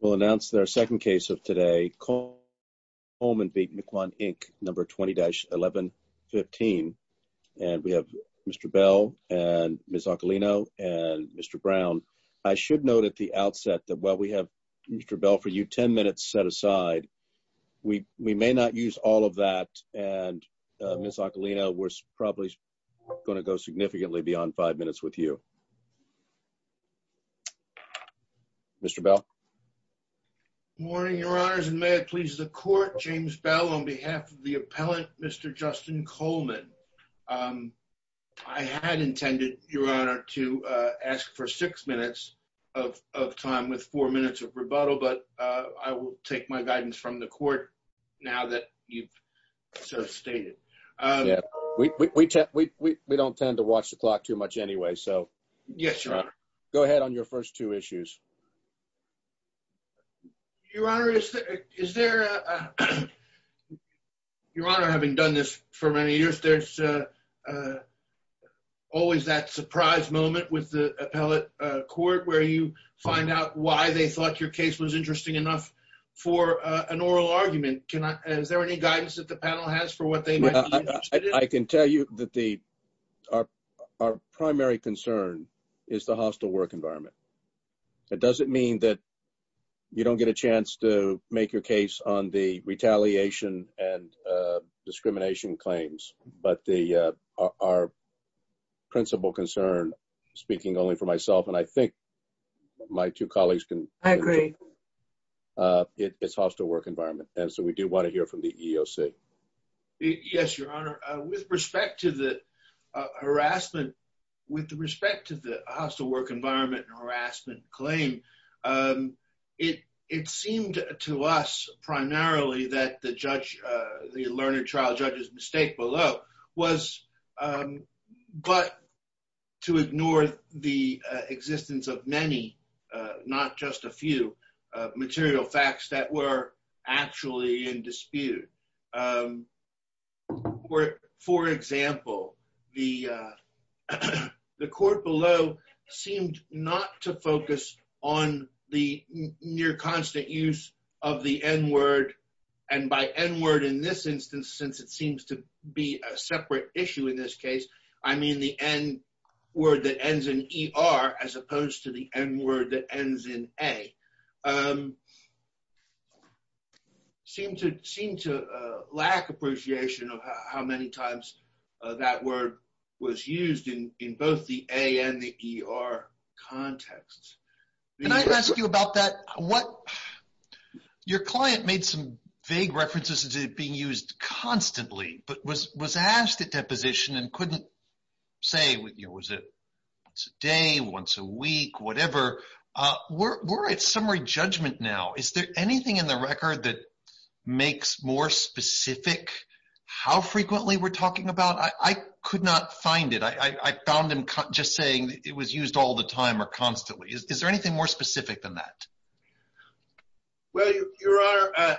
We'll announce their second case of today, Coleman v. Miquon, Inc., number 20-1115. And we have Mr. Bell and Ms. Ocalino and Mr. Brown. I should note at the outset that while we have Mr. Bell for you, 10 minutes set aside, we may not use all of that and Ms. Ocalino, we're probably going to go significantly beyond five minutes with you. Mr. Bell. Good morning, Your Honors, and may it please the Court, James Bell on behalf of the appellant, Mr. Justin Coleman. I had intended, Your Honor, to ask for six minutes of time with four minutes of rebuttal, but I will take my guidance from the Court now that you've so stated. We don't tend to watch the clock too much anyway, so go ahead on your first two issues. Your Honor, having done this for many years, there's always that surprise moment with the appellate court where you find out why they thought your case was interesting enough for an oral argument. And is there any guidance that the panel has for what they might be interested in? I can tell you that our primary concern is the hostile work environment. It doesn't mean that you don't get a chance to make your case on the retaliation and discrimination claims, but our principal concern, speaking only for myself and I think my two colleagues agree, it's hostile work environment, and so we do want to hear from the EEOC. Yes, Your Honor, with respect to the hostile work environment and harassment claim, it seemed to us primarily that the learned trial judge's mistake below was but to ignore the existence of many, not just a few, material facts that were actually in dispute. For example, the court below seemed not to focus on the near constant use of the N-word, and by N-word in this instance, since it seems to be a separate issue in this case, I mean the N-word that ends in E-R as opposed to the N-word that ends in A, seemed to lack appreciation of how many times that word was used in both the A and the E-R contexts. Can I ask you about that? Your client made some vague references to it being used constantly, but was asked at say, was it once a day, once a week, whatever. We're at summary judgment now. Is there anything in the record that makes more specific how frequently we're talking about? I could not find it. I found him just saying it was used all the time or constantly. Is there anything more specific than that? Well, Your Honor,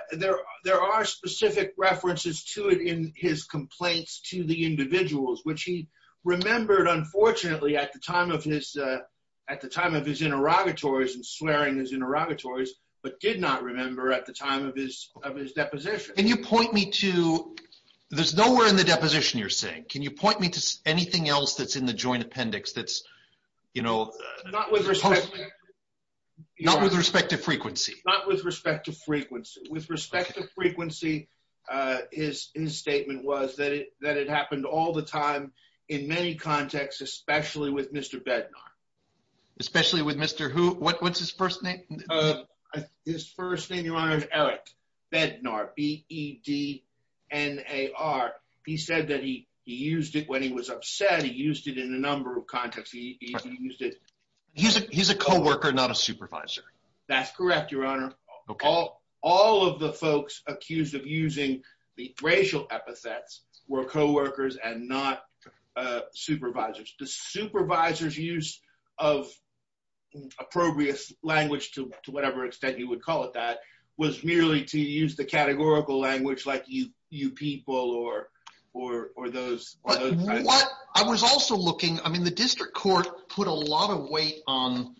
there are specific references to it in his complaints to the individuals, which he remembered, unfortunately, at the time of his interrogatories and swearing his interrogatories, but did not remember at the time of his deposition. Can you point me to, there's nowhere in the deposition you're saying, can you point me to anything else that's in the joint appendix that's, you know, not with respect to frequency? Not with respect to frequency. With respect to frequency, his statement was that it happened all the time in many contexts, especially with Mr. Bednar. Especially with Mr. who, what's his first name? His first name, Your Honor, is Eric Bednar. B-E-D-N-A-R. He said that he used it when he was upset. He used it in a number of contexts. He used it. He's a co-worker, not a supervisor. That's correct, Your Honor. All of the folks accused of using the racial epithets were co-workers and not supervisors. The supervisor's use of appropriate language, to whatever extent you would call it that, was merely to use the categorical language like you people or those. What I was also looking, I mean, the district court put a lot of weight on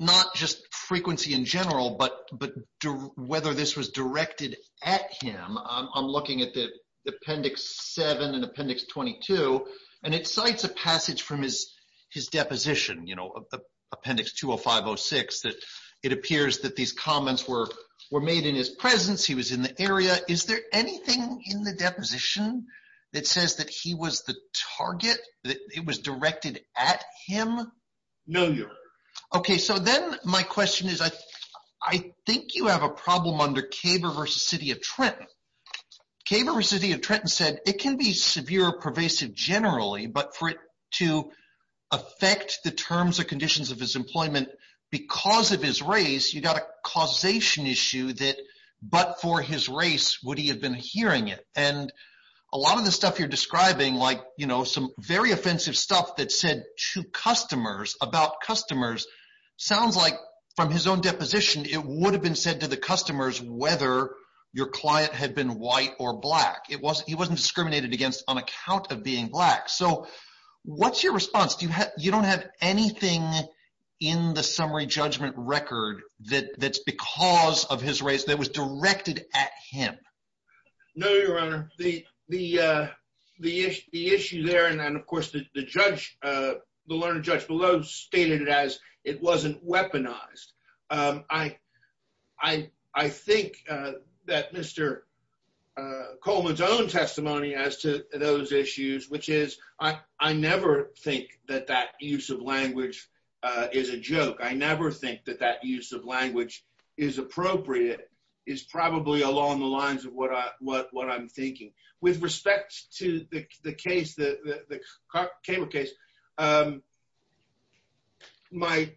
not just frequency in general, but whether this was directed at him. I'm looking at the appendix 7 and appendix 22, and it cites a passage from his deposition, you know, appendix 205-06, that it appears that these comments were made in his presence. He was in the area. Is there anything in the deposition that says that he was the target, that it was directed at him? No, Your Honor. Okay, so then my question is, I think you have a problem under Kaber v. City of Trenton. Kaber v. City of Trenton said it can be severe or pervasive generally, but for it to affect the terms or conditions of his employment because of his race, you got a causation issue that but for his race, would he have been hearing it? And a lot of the stuff you're describing, like, you know, some very offensive stuff that said to customers about customers, sounds like from his own deposition, it would have been said to the customers whether your client had been white or black. He wasn't discriminated against on account of being black. So what's your response? You don't have anything in the summary judgment record that's because of his race that was directed at him? No, Your Honor. The issue there, and of course, the learned judge below stated it as it wasn't weaponized. I think that Mr. Coleman's own testimony as to those issues, which is, I never think that that use of language is a joke. I never think that that use of language is appropriate, is probably along the lines of what I'm thinking. With respect to the case, the Cable case, my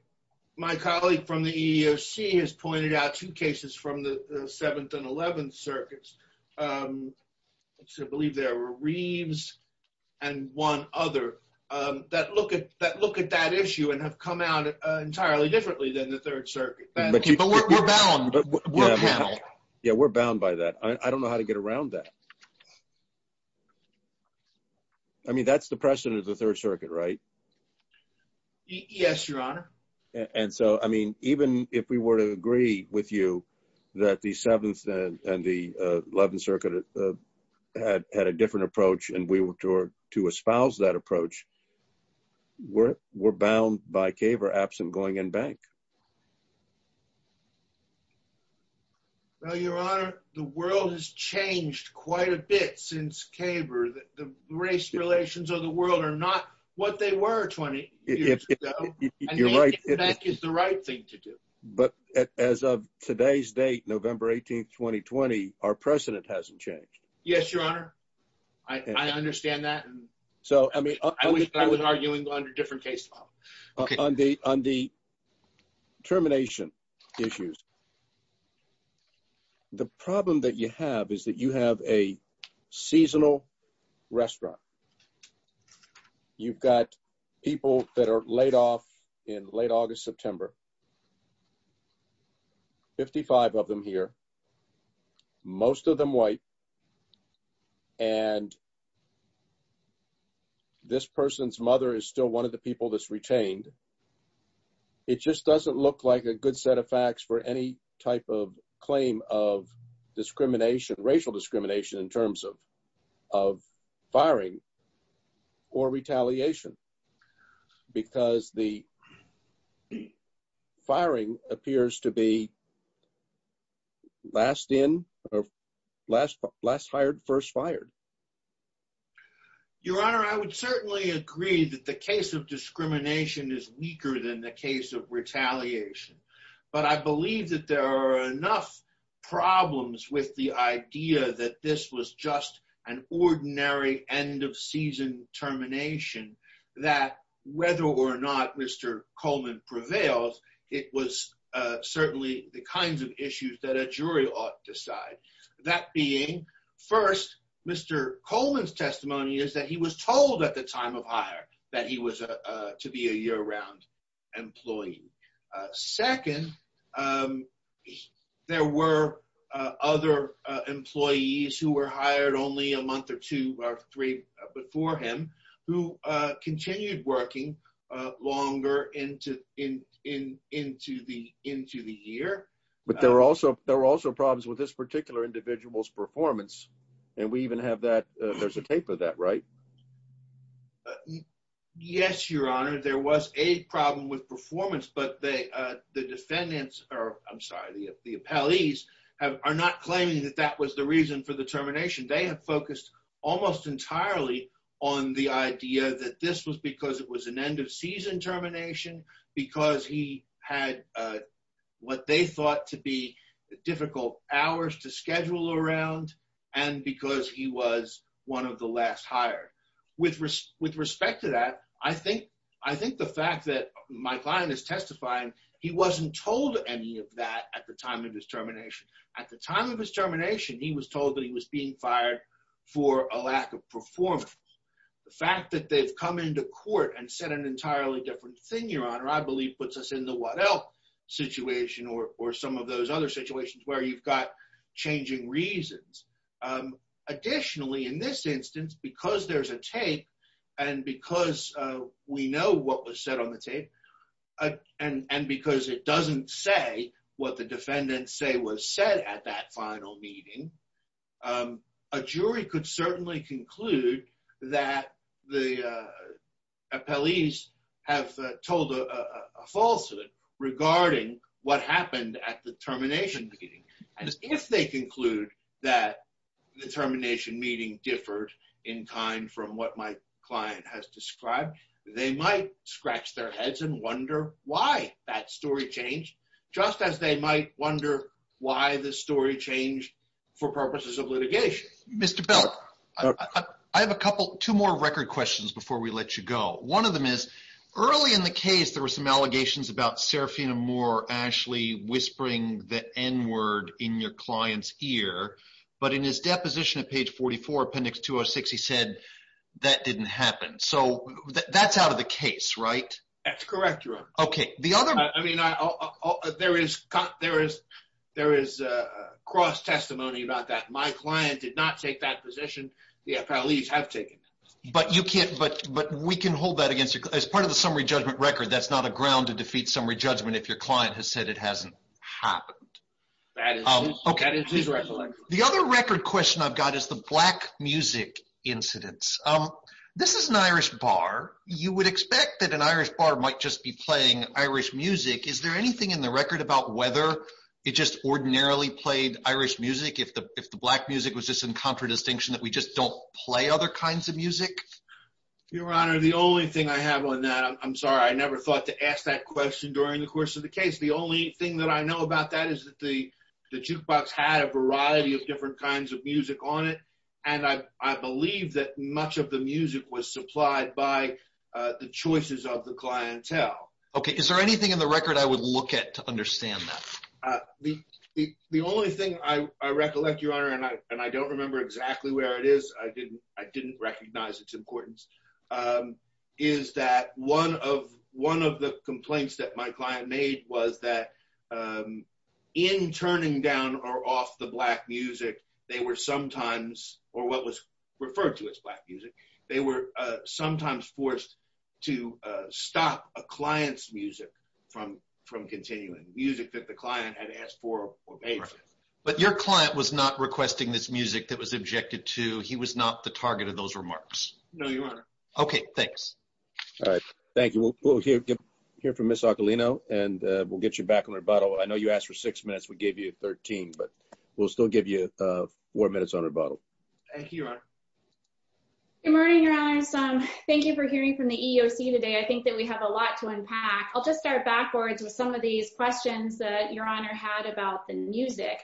colleague from the EEOC has pointed out two cases from the 7th and 11th circuits. I believe there were Reeves and one other that look at that issue and have come out entirely differently than the 3rd circuit. But we're bound. Yeah, we're bound by that. I don't know how to get around that. I mean, that's the precedent of the 3rd circuit, right? Yes, Your Honor. And so, I mean, even if we were to agree with you that the 7th and the 11th had a different approach, and we were to espouse that approach, we're bound by Kaber absent going in bank. Well, Your Honor, the world has changed quite a bit since Kaber. The race relations of the world are not what they were 20 years ago, and going in bank is the right thing to do. But as of today's date, November 18th, 2020, our precedent hasn't changed. Yes, Your Honor. I understand that, and I wish I was arguing under a different case law. On the termination issues, the problem that you have is that you have a seasonal restaurant. You've got people that are laid off in late August, September, 55 of them here, most of them white, and this person's mother is still one of the people that's retained. It just doesn't look like a good set of facts for any type of claim of discrimination, racial discrimination, in terms of firing or retaliation, because the firing appears to be last in or last hired, first fired. Your Honor, I would certainly agree that the case of discrimination is weaker than the case of retaliation, but I believe that there are enough problems with the idea that this was just an ordinary end of season termination, that whether or not Mr. Coleman prevails, it was certainly the kinds of issues that a jury ought to decide. That being, first, Mr. Coleman's time of hire, that he was to be a year-round employee. Second, there were other employees who were hired only a month or two or three before him who continued working longer into the year. But there were also problems with this particular individual's performance, and we even have that, there's a tape of that, right? Yes, Your Honor, there was a problem with performance, but the defendants, or I'm sorry, the appellees, are not claiming that that was the reason for the termination. They have focused almost entirely on the idea that this was because it was an end of season termination, because he had what they thought to be difficult hours to schedule around, and because he was one of the last hired. With respect to that, I think the fact that my client is testifying, he wasn't told any of that at the time of his termination. At the time of his termination, he was told that he was being fired for a lack of performance. The fact that they've come into court and said an entirely different thing, Your Honor, I believe puts us in the what else situation or some of those other situations where you've got changing reasons. Additionally, in this instance, because there's a tape, and because we know what was said on the tape, and because it doesn't say what the defendants say was said at that final meeting, a jury could certainly conclude that the appellees have told a falsehood regarding what happened at the termination meeting. And if they conclude that the termination meeting differed in kind from what my client has described, they might scratch their heads and wonder why that story changed, just as they might wonder why the story changed for purposes of litigation. Mr. Belk, I have a couple, two more record questions before we let you go. One of them is early in the case, there were some allegations about Serafina Moore actually whispering the N-word in your client's ear, but in his deposition at page 44, appendix 206, he said that didn't happen. So that's out of the case, right? That's correct, Your Honor. Okay, the other... I mean, there is cross testimony about that. My client did not take that position. The appellees have taken it. But we can hold that against you. As part of the summary judgment record, that's not a ground to defeat summary judgment if your client has said it hasn't happened. That is his recollection. The other record question I've got is the black music incidents. This is an Irish bar. You would expect that an Irish bar might just be playing Irish music. Is there anything in the record about whether it just ordinarily played Irish music if the black music was just in contradistinction that we just don't play other kinds of music? Your Honor, the only thing I have on that, I'm sorry, I never thought to ask that question during the course of the case. The only thing that I know about that is that the jukebox had a variety of different kinds of music on it. And I believe that much of the music was supplied by the choices of the clientele. Okay, is there anything in the record? The only thing I recollect, Your Honor, and I don't remember exactly where it is, I didn't recognize its importance, is that one of the complaints that my client made was that in turning down or off the black music, they were sometimes, or what was referred to as black music, they were sometimes forced to stop a client's music from continuing. Music that the client had asked for. But your client was not requesting this music that was objected to, he was not the target of those remarks? No, Your Honor. Okay, thanks. All right, thank you. We'll hear from Ms. Ocolino and we'll get you back on rebuttal. I know you asked for six minutes, we gave you 13, but we'll still give you four minutes on rebuttal. Thank you, Your Honor. Good morning, Your Honors. Thank you for hearing from the EEOC today. I think that we have a lot to unpack. I'll just start backwards with some of these questions that Your Honor had about the music.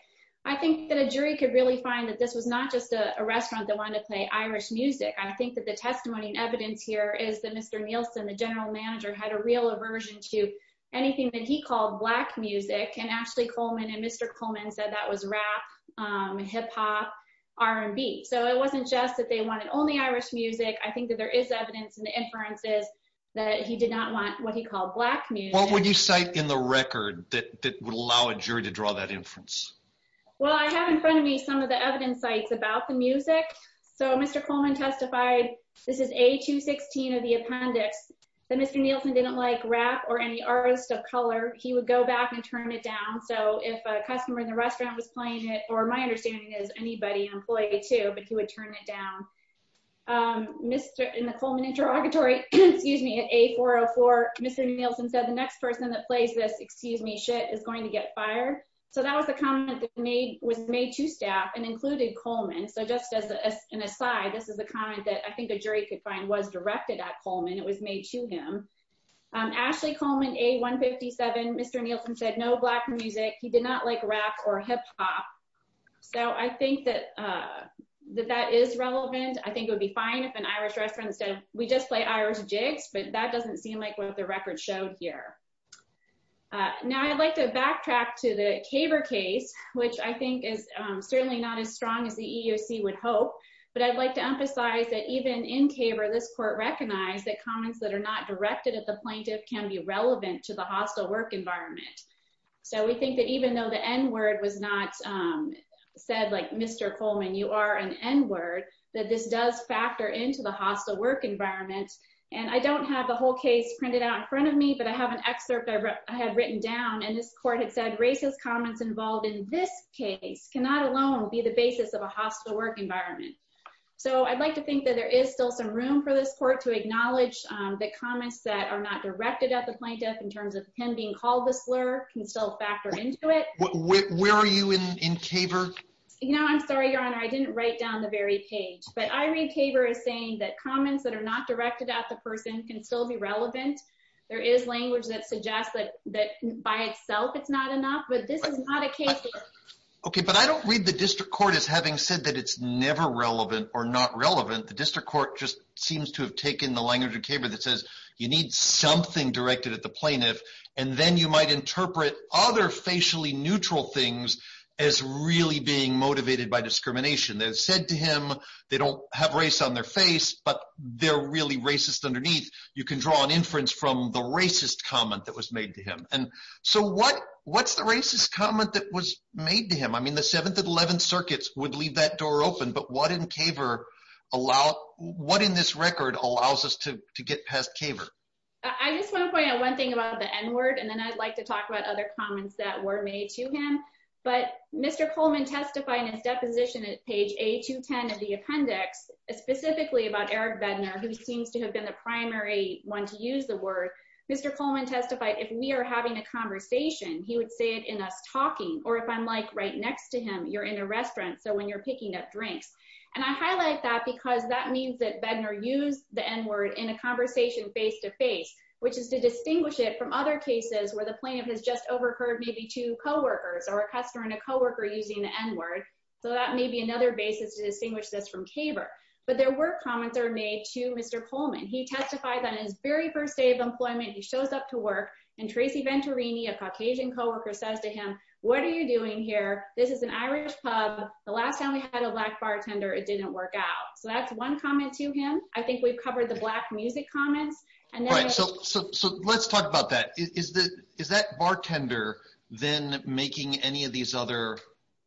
I think that a jury could really find that this was not just a restaurant that wanted to play Irish music. I think that the testimony and evidence here is that Mr. Nielsen, the general manager, had a real aversion to anything that he called black music, and Ashley Coleman and Mr. Coleman said that was rap, hip-hop, R&B. So it wasn't just that they wanted only Irish music, I think that there is evidence in the inferences that he did not want what he called black music. What would you cite in the record that would allow a jury to draw that inference? Well, I have in front of me some of the evidence sites about the music. So Mr. Coleman testified, this is A216 of the appendix, that Mr. Nielsen didn't like rap or any artist of color. He would go back and turn it down. So if a customer in the restaurant was playing it, or my understanding is anybody, an employee too, but he would turn it down. In the Coleman interrogatory, excuse me, at A404, Mr. Nielsen said the next person that plays this, excuse me, shit is going to get fired. So that was the comment that was made to staff and included Coleman. So just as an aside, this is a comment that I think a jury could find was directed at Coleman. It was made to him. Ashley Coleman, A157, Mr. Nielsen said no black music. He did not like rap or hip-hop. So I think that that is relevant. I think it would be fine if an Irish restaurant said, we just play Irish jigs, but that doesn't seem like what the record showed here. Now I'd like to backtrack to the Caber case, which I think is certainly not as strong as the EEOC would hope, but I'd like to emphasize that even in Caber, this court recognized that comments that are not directed at the plaintiff can be relevant to the hostile work environment. So we think that even though the N word was not said like, Mr. Coleman, you are an N word, that this does factor into the hostile work environment. And I don't have the whole case printed out in front of me, but I have an excerpt I had written down and this court had said racist comments involved in this case cannot alone be the basis of a hostile work environment. So I'd like to think that there is still some room for this court to acknowledge the comments that are not directed at the plaintiff in terms of him being called a slur can still factor into it. Where are you in Caber? You know, I'm sorry, your honor. I didn't write down the very page, but I read Caber as saying that comments that are not directed at the person can still be relevant. There is language that suggests that by itself it's not enough, but this is not a case. Okay. But I don't read the district court as having said that it's never relevant or not relevant. The district court just seems to have taken the language of Caber that says, you need something directed at the plaintiff. And then you might interpret other facially neutral things as really being motivated by discrimination that said to him, they don't have race on their face, but they're really racist underneath. You can draw an inference from the racist comment that was made to him. And so what, what's the racist comment that was made to him? I mean, the 7th and 11th circuits would leave that door open, but what in Caber allow, what in this record allows us to get past Caber? I just want to point out one thing about the N word. And then I'd like to talk about other comments that were made to him, but Mr. Coleman testified in his deposition at page eight to 10 of the appendix specifically about Eric Bednar, who seems to have been the primary one to use the word. Mr. Coleman testified. If we are having a conversation, he would say it in us talking, or if I'm like right next to him, you're in a restaurant. So when you're picking up drinks and I highlight that because that means that Bednar used the N word in a conversation face-to-face, which is to distinguish it from other cases where the plaintiff has just overheard maybe two coworkers or a customer and a coworker using the N word. So that may be another basis to distinguish this from Caber, but there were comments are made to Mr. Coleman. He testified on his very first day of employment. He shows up to work and Tracy Venturini, a Caucasian coworker says to him, what are you doing here? This is an Irish pub. The last time we had a black bar didn't work out. So that's one comment to him. I think we've covered the black music comments. And so, so, so let's talk about that. Is that, is that bartender then making any of these other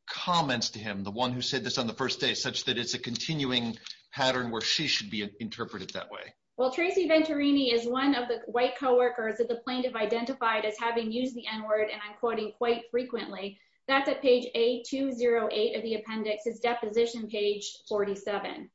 comments to him? The one who said this on the first day, such that it's a continuing pattern where she should be interpreted that way. Well, Tracy Venturini is one of the white coworkers that the plaintiff identified as having used the N word and I'm quoting quite frequently that's at page eight, two zero eight of the appendix is deposition page 47.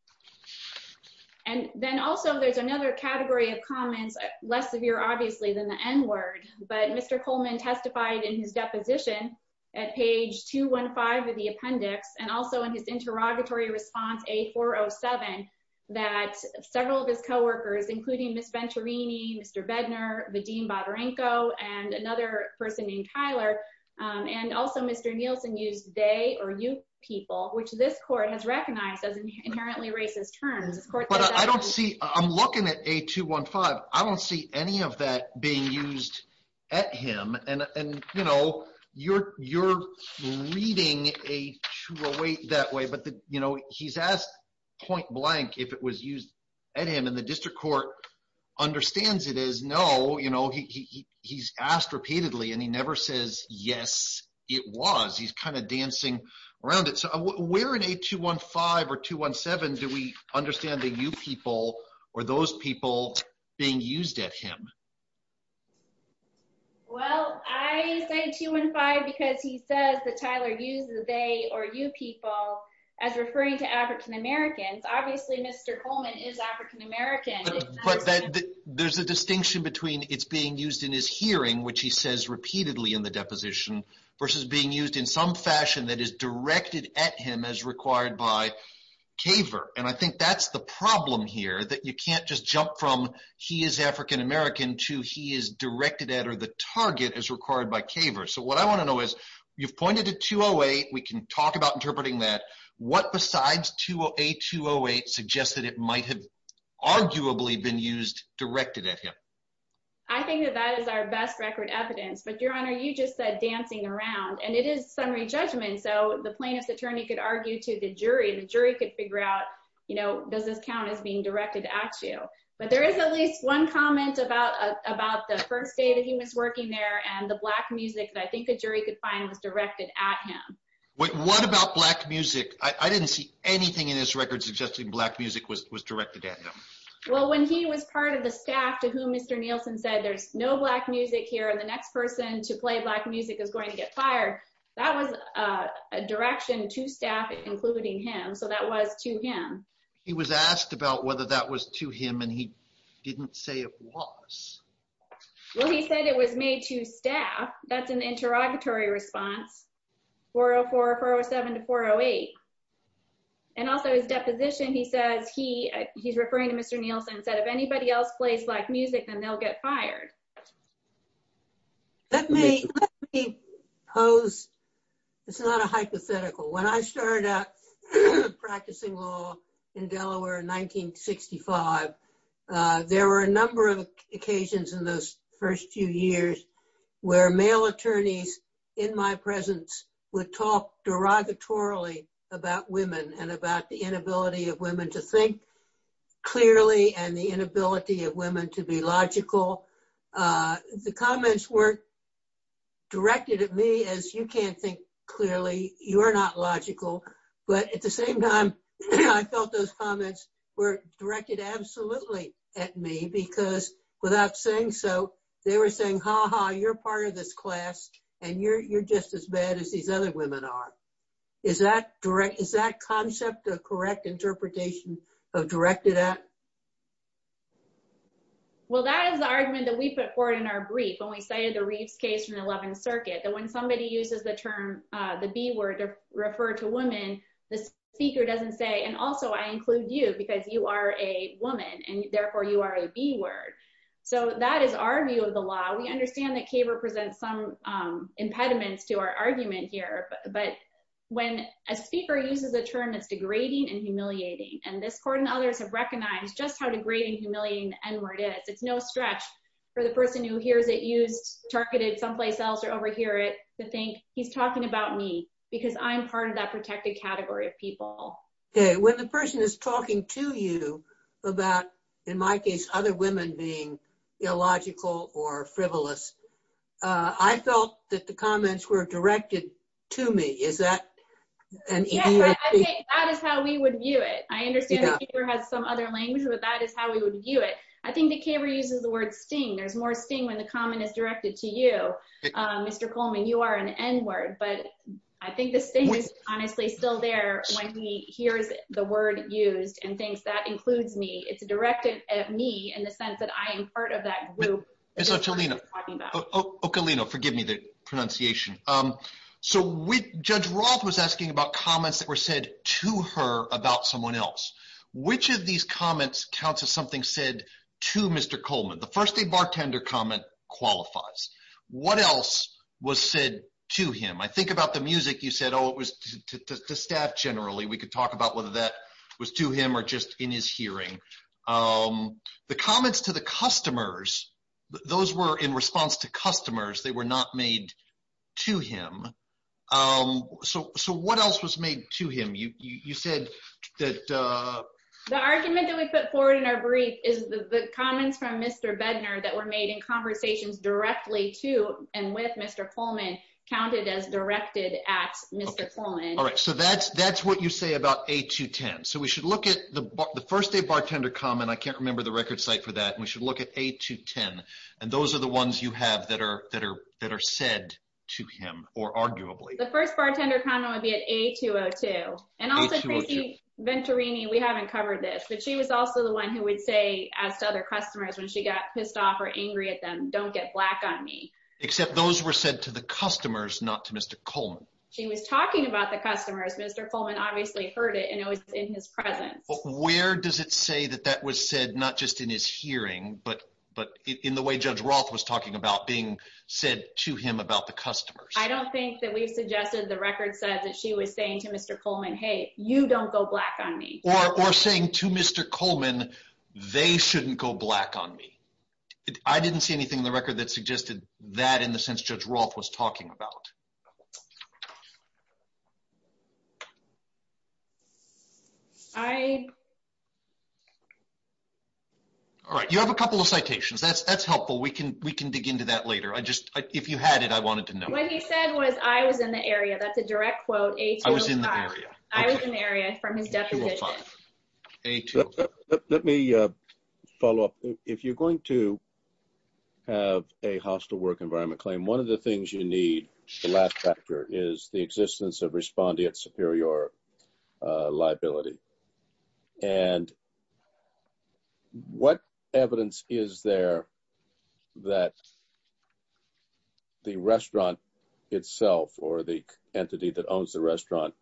And then also there's another category of comments less severe, obviously than the N word, but Mr. Coleman testified in his deposition at page two one five of the appendix. And also in his interrogatory response, a four Oh seven that several of his coworkers, including Ms. Venturini, Mr. Bednar, the Dean Botarenko and another person named Tyler. And also Mr. Nielsen used they, or you people, which this court has recognized as inherently racist terms. I don't see, I'm looking at a two one five. I don't see any of that being used at him. And, and you know, you're, you're reading a true await that way, but the, you know, he's asked point blank if it was used at him and the district court understands it is no, you know, he, he, he's asked repeatedly and he never says, yes, it was, he's kind of dancing around it. So where in a two one five or two one seven, do we understand that you people or those people being used at him? Well, I say two one five, because he says that Tyler uses they, or you people as referring to Americans. Obviously, Mr. Coleman is African American. There's a distinction between it's being used in his hearing, which he says repeatedly in the deposition versus being used in some fashion that is directed at him as required by caver. And I think that's the problem here that you can't just jump from he is African American to he is directed at, or the target is required by caver. So what I want to know is you've pointed to two oh eight, we can talk about interpreting that what besides two oh eight, two oh eight suggests that it might have arguably been used directed at him. I think that that is our best record evidence, but your honor, you just said dancing around and it is summary judgment. So the plaintiff's attorney could argue to the jury and the jury could figure out, you know, does this count as being directed at you? But there is at least one comment about, about the first day that he was working there and the black music that I think the jury could find was directed at him. What about black music? I didn't see anything in his record suggesting black music was directed at him. Well, when he was part of the staff to whom Mr. Nielsen said, there's no black music here. And the next person to play black music is going to get fired. That was a direction to staff, including him. So that was to him. He was asked about whether that was to him and he didn't say it was. Well, he said it was made to staff. That's an interrogatory response. 404, 407 to 408. And also his deposition, he says he, he's referring to Mr. Nielsen said, if anybody else plays black music, then they'll get fired. Let me, let me pose. It's not a hypothetical. When I started out practicing law in Delaware in 1965, there were a number of occasions in those first few years where male attorneys in my presence would talk derogatorily about women and about the inability of women to think clearly and the inability of women to be logical. The comments weren't directed at me as you can't think clearly, you are not logical. But at the same time, I felt those comments were directed absolutely at me because without saying so they were saying, ha ha, you're part of this class and you're, you're just as bad as these other women are. Is that direct, is that concept of correct interpretation of directed at? Well, that is the argument that we put forward in our brief when we cited the Reeves case from the 11th circuit that when somebody uses the term, the B word to refer to women, the speaker doesn't say, and also I include you because you are a woman and therefore you are a B word. So that is our view of the law. We understand that Kaber presents some impediments to our argument here, but when a speaker uses a term that's degrading and humiliating, and this court and others have recognized just how degrading, humiliating the N word is, it's no stretch for the person who hears it used targeted someplace else or overhear it to think he's talking about me because I'm part of that protected category of people. Okay. When the person is talking to you about, in my case, other women being illogical or frivolous, I felt that the comments were directed to me. Is that? I think that is how we would view it. I understand the speaker has some other language, but that is how we would view it. I think that Kaber uses the word sting. There's more sting when the comment is directed to you, Mr. Coleman, you are an N word, but I think the honestly still there when he hears the word used and thinks that includes me. It's directed at me in the sense that I am part of that group. Ms. Ocalino, forgive me the pronunciation. So Judge Roth was asking about comments that were said to her about someone else. Which of these comments counts as something said to Mr. Coleman? The first day bartender comment qualifies. What else was said to him? I think about the music you said, oh, it was to staff generally. We could talk about whether that was to him or just in his hearing. The comments to the customers, those were in response to customers. They were not made to him. So what else was made to him? You said that the argument that we put forward in our brief is the comments from Mr. Bednar that were made in conversations directly to and with Mr. Coleman counted as directed at Mr. Coleman. All right. So that's what you say about A210. So we should look at the first day bartender comment. I can't remember the record site for that. And we should look at A210. And those are the ones you have that are said to him or arguably. The first bartender comment would be at A202. And also Tracy Venturini, we haven't covered this, but she was also the one who would say as to other customers, when she got pissed off or angry at them, don't get black on me. Except those were said to the customers, not to Mr. Coleman. She was talking about the customers. Mr. Coleman obviously heard it and it was in his presence. Where does it say that that was said, not just in his hearing, but in the way Judge Roth was talking about being said to him about the customers? I don't think that we've suggested the record said that she was saying to Mr. Coleman, hey, you don't go black on me. Or saying to Mr. Coleman, they shouldn't go black on me. I didn't see anything in the record that suggested that in the sense Judge Roth was talking about. All right. You have a couple of citations. That's helpful. We can dig into that later. If you had it, I wanted to know. What he said was, I was in the area. That's a direct quote, A205. I was in the area. I was in the area from his deposition. Let me follow up. If you're going to have a hostile work environment claim, one of the things you need, the last factor, is the existence of respondeat superior liability. And what evidence is there that the restaurant itself, or the entity that owns the restaurant,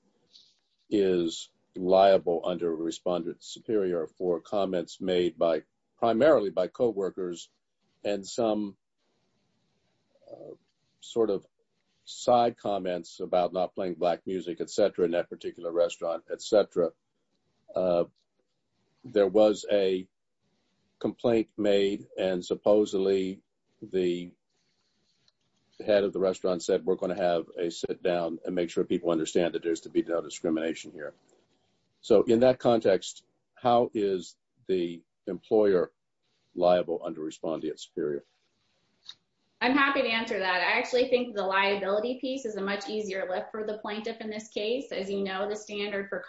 is liable under respondeat superior for comments made primarily by coworkers and some sort of side comments about not playing black music, et cetera, in that particular restaurant, et cetera. There was a complaint made and supposedly the head of the restaurant said, we're going to have a sit down and make sure people understand that there's to be no discrimination here. So in that context, how is the employer liable under respondeat superior? I'm happy to answer that. I actually think the liability piece is a much easier lift for the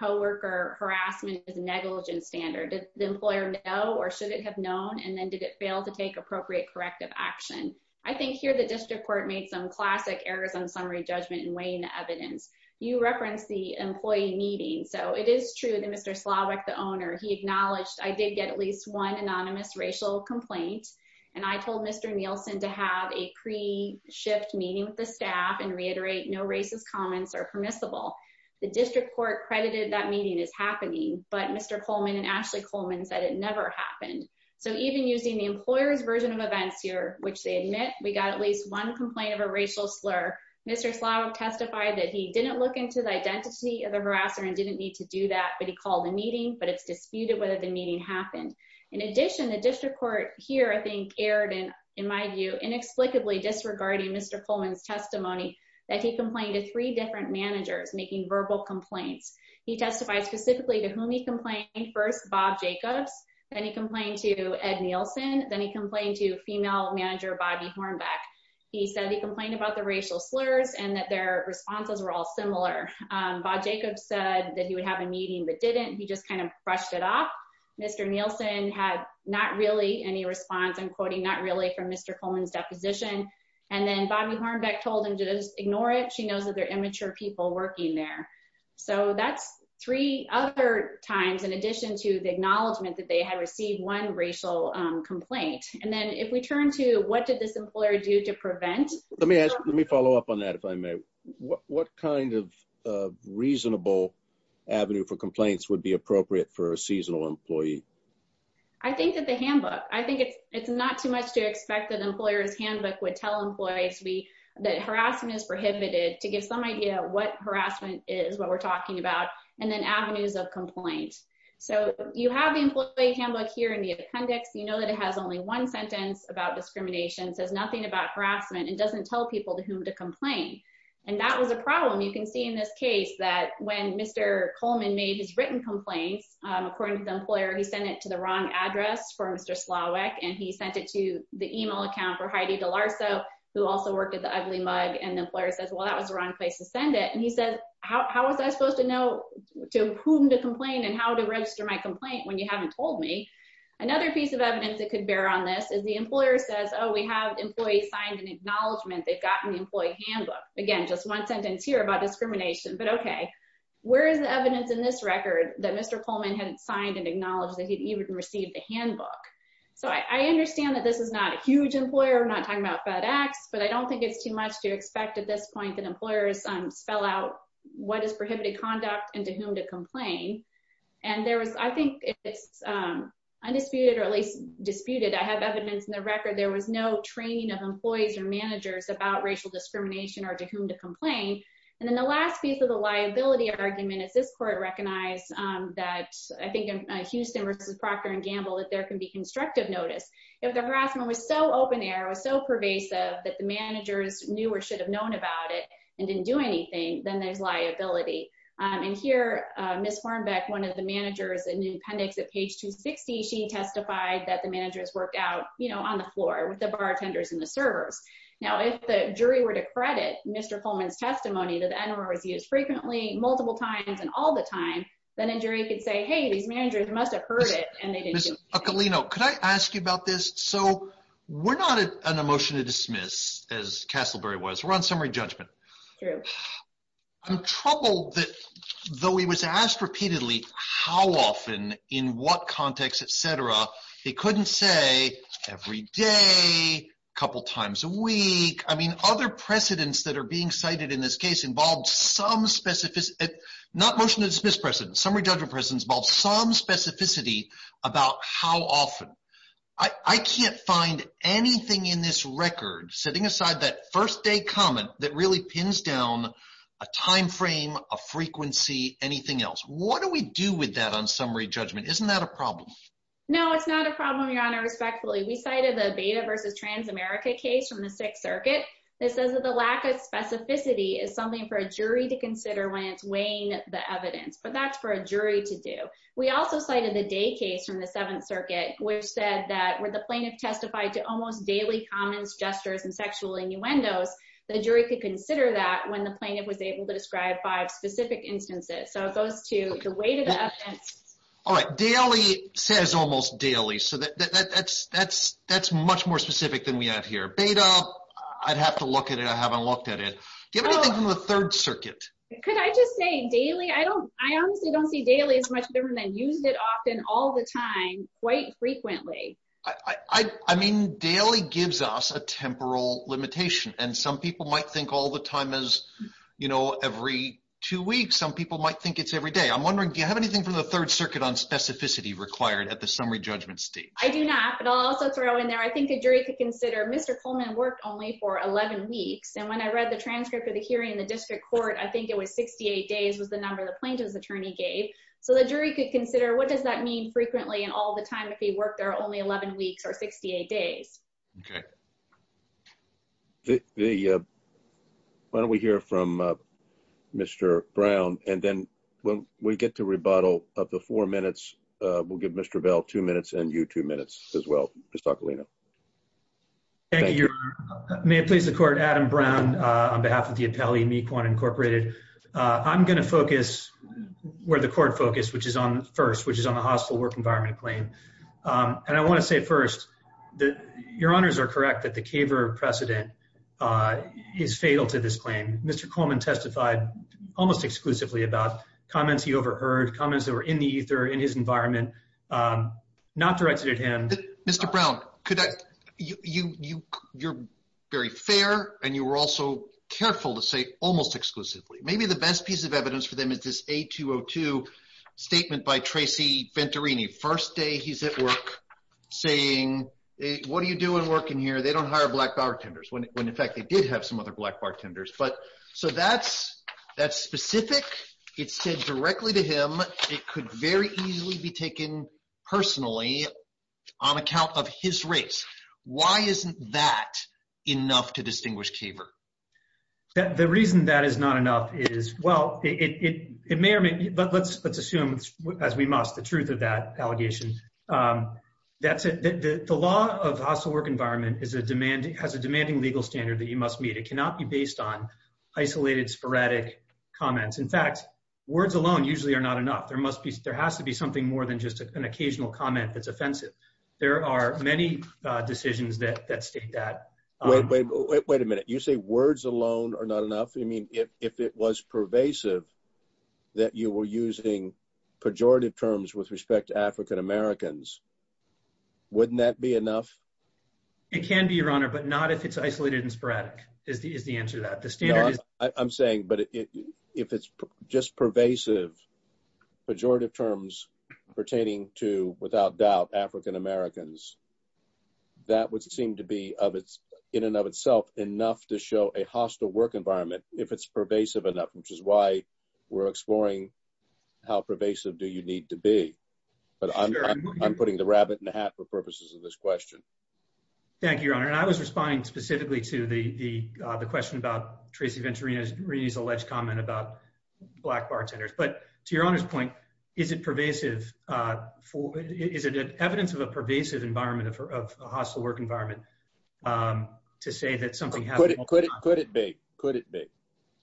coworker. Harassment is a negligent standard. Did the employer know or should it have known? And then did it fail to take appropriate corrective action? I think here the district court made some classic errors on summary judgment in weighing the evidence. You referenced the employee meeting. So it is true that Mr. Slavik, the owner, he acknowledged I did get at least one anonymous racial complaint. And I told Mr. Nielsen to have a pre-shift meeting with the staff and no racist comments are permissible. The district court credited that meeting is happening, but Mr. Coleman and Ashley Coleman said it never happened. So even using the employer's version of events here, which they admit, we got at least one complaint of a racial slur. Mr. Slavik testified that he didn't look into the identity of the harasser and didn't need to do that, but he called the meeting, but it's disputed whether the meeting happened. In addition, the district court here, aired in my view, inexplicably disregarding Mr. Coleman's testimony that he complained to three different managers making verbal complaints. He testified specifically to whom he complained first, Bob Jacobs. Then he complained to Ed Nielsen. Then he complained to female manager, Bobby Hornbeck. He said he complained about the racial slurs and that their responses were all similar. Bob Jacobs said that he would have a meeting, but didn't. He just kind of brushed it off. Mr. Nielsen had not really any response, I'm quoting, not really from Mr. Coleman's deposition. And then Bobby Hornbeck told him to just ignore it. She knows that they're immature people working there. So that's three other times, in addition to the acknowledgement that they had received one racial complaint. And then if we turn to what did this employer do to prevent- Let me ask, let me follow up on that, if I may. What kind of reasonable avenue for complaints would be appropriate for a seasonal employee? I think that the handbook, I think it's not too much to expect that employer's handbook would tell employees that harassment is prohibited, to give some idea what harassment is, what we're talking about, and then avenues of complaint. So you have the employee handbook here in the appendix. You know that it has only one sentence about discrimination, says nothing about harassment and doesn't tell people to whom to complain. And that was a problem. You can see in this case that when Mr. Coleman made his written complaints, according to the employer, he sent it to the wrong address for Mr. Slawek. And he sent it to the email account for Heidi DeLarso, who also worked at the Ugly Mug. And the employer says, well, that was the wrong place to send it. And he says, how was I supposed to know to whom to complain and how to register my complaint when you haven't told me? Another piece of evidence that could bear on this is the employer says, oh, we have employees signed an acknowledgement. They've gotten the employee handbook. Again, just one sentence here about discrimination. But okay, where is the evidence in this record that Mr. Coleman hadn't signed and acknowledged that he'd even received the handbook? So I understand that this is not a huge employer. I'm not talking about FedEx. But I don't think it's too much to expect at this point that employers spell out what is prohibited conduct and to whom to complain. And there was, I think it's undisputed, or at least disputed, I have evidence in the record, there was no training of employees or managers about racial discrimination or to whom to complain. And then the last piece of the liability argument is this court recognized that, I think, Houston versus Procter and Gamble, that there can be constructive notice. If the harassment was so open air, was so pervasive, that the managers knew or should have known about it, and didn't do anything, then there's liability. And here, Ms. Hornbeck, one of the managers in the appendix at page 260, she testified that the managers worked out, on the floor with the bartenders and the servers. Now, if the jury were to credit Mr. Coleman's testimony that the NRO is used frequently, multiple times, and all the time, then a jury could say, hey, these managers must have heard it, and they didn't do anything. Ms. Eccolino, could I ask you about this? So we're not at an emotion to dismiss, as Castleberry was, we're on summary judgment. True. I'm troubled that, though he was asked repeatedly, how often, in what context, etc., he couldn't say every day, a couple times a week. I mean, other precedents that are being cited in this case involve some specific, not motion to dismiss precedents, summary judgment precedents involve some specificity about how often. I can't find anything in this record, setting aside that first day comment that really pins down a time frame, a frequency, anything else. What do we do with that on summary judgment? Isn't that a problem? No, it's not a problem, Your Honor, respectfully. We cited the Beta v. Transamerica case from the Sixth Circuit that says that the lack of specificity is something for a jury to consider when it's weighing the evidence, but that's for a jury to do. We also cited the Day case from the Seventh Circuit, which said that where the plaintiff testified to almost daily comments, gestures, and sexual innuendos, the jury could consider that when the plaintiff was able to describe five specific instances. So those two, the weighted evidence... All right, daily says almost daily, so that's much more specific than we have here. Beta, I'd have to look at it. I haven't looked at it. Do you have anything from the Third Circuit? Could I just say daily? I honestly don't see daily as much different than used it often, all the time, quite frequently. I mean, daily gives us a temporal limitation, and some people might think all the time as, you know, every two weeks. Some people might think it's every day. I'm wondering, do you have anything from the Third Circuit on specificity required at the summary judgment stage? I do not, but I'll also throw in there, I think a jury could consider Mr. Coleman worked only for 11 weeks, and when I read the transcript of the hearing in the district court, I think it was 68 days was the number the plaintiff's attorney gave. So the jury could consider what does that mean frequently and all the time if he worked only 11 weeks or 68 days. Okay. Why don't we hear from Mr. Brown, and then when we get to rebuttal of the four minutes, we'll give Mr. Bell two minutes and you two minutes as well, Mr. Aquilino. Thank you. May it please the court, Adam Brown, on behalf of the appellee, Mequon Incorporated. I'm going to focus where the court focus, which is on first, which is on the hostile work environment claim. And I want to say first that your honors are correct that the CAVR precedent is fatal to this claim. Mr. Coleman testified almost exclusively about comments he overheard, comments that were in the ether, in his environment, not directed at him. Mr. Brown, you're very fair and you were also careful to say almost exclusively. Maybe the first day he's at work saying, what are you doing working here? They don't hire black bartenders when in fact they did have some other black bartenders. But so that's specific. It's said directly to him. It could very easily be taken personally on account of his race. Why isn't that enough to distinguish CAVR? The reason that is not enough is, well, it may or may not. Let's assume as we must, the truth of that allegation. The law of hostile work environment has a demanding legal standard that you must meet. It cannot be based on isolated, sporadic comments. In fact, words alone usually are not enough. There has to be something more than just an occasional comment that's offensive. There are many decisions that state that. Wait a minute. You say words alone are not enough? I mean, if it was pervasive that you were using pejorative terms with respect to African Americans, wouldn't that be enough? It can be, Your Honor, but not if it's isolated and sporadic is the answer to that. I'm saying, but if it's just pervasive, pejorative terms pertaining to, without doubt, African Americans, that would seem to be, in and of itself, enough to show a hostile work environment if it's pervasive enough, which is why we're exploring how pervasive do you need to be. But I'm putting the rabbit in the hat for purposes of this question. Thank you, Your Honor. I was responding specifically to the question about Tracy Venturini's alleged comment about Black bartenders. But to Your Honor's point, is it pervasive? Is it evidence of a pervasive hostile work environment to say that something happened? Could it be? Could it be?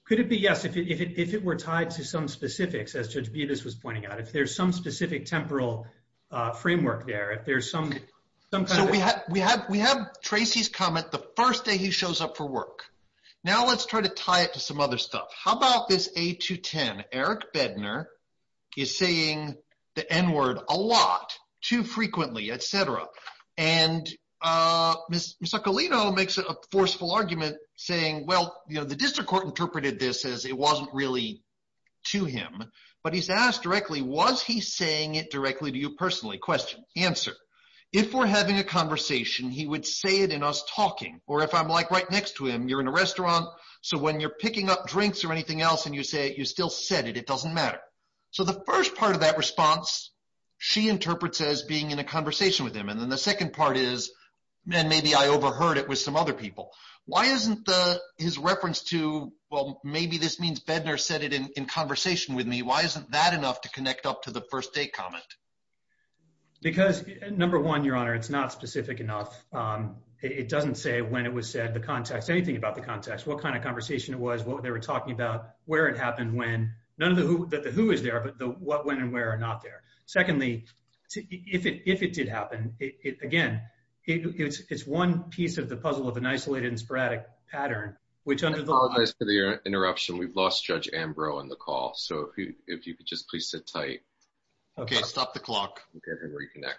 Could it be? Yes, if it were tied to some specifics, as Judge Bevis was pointing out. If there's some specific temporal framework there, if there's some kind of... So we have Tracy's comment the first day he shows up for work. Now, let's try to tie it to some other stuff. How about this A210? Eric Bednar is saying the N-word a lot, too frequently, et cetera. And Ms. Soccolino makes a forceful argument saying, well, the district court interpreted this as it wasn't really to him, but he's asked directly, was he saying it directly to you personally? Question, answer. If we're having a conversation, he would say it in us talking. Or if I'm right next to him, you're in a restaurant, so when you're picking up drinks or anything else and you say it, you still said it. It doesn't matter. So the first part of that response, she interprets as being in a conversation with him. And then the second part is, man, maybe I overheard it with some other people. Why isn't his reference to, well, maybe this means Bednar said it in conversation with me. Why isn't that enough to connect up to the first day comment? Because number one, Your Honor, it's not specific enough. It doesn't say when it was said, anything about the context, what kind of conversation it was, what they were talking about, where it happened, when. None of the who is there, but the what, when, and where are not there. Secondly, if it did happen, again, it's one piece of the puzzle of an isolated and sporadic pattern, which under the- I apologize for the interruption. We've lost Judge Ambrose on the line. Okay. I think that might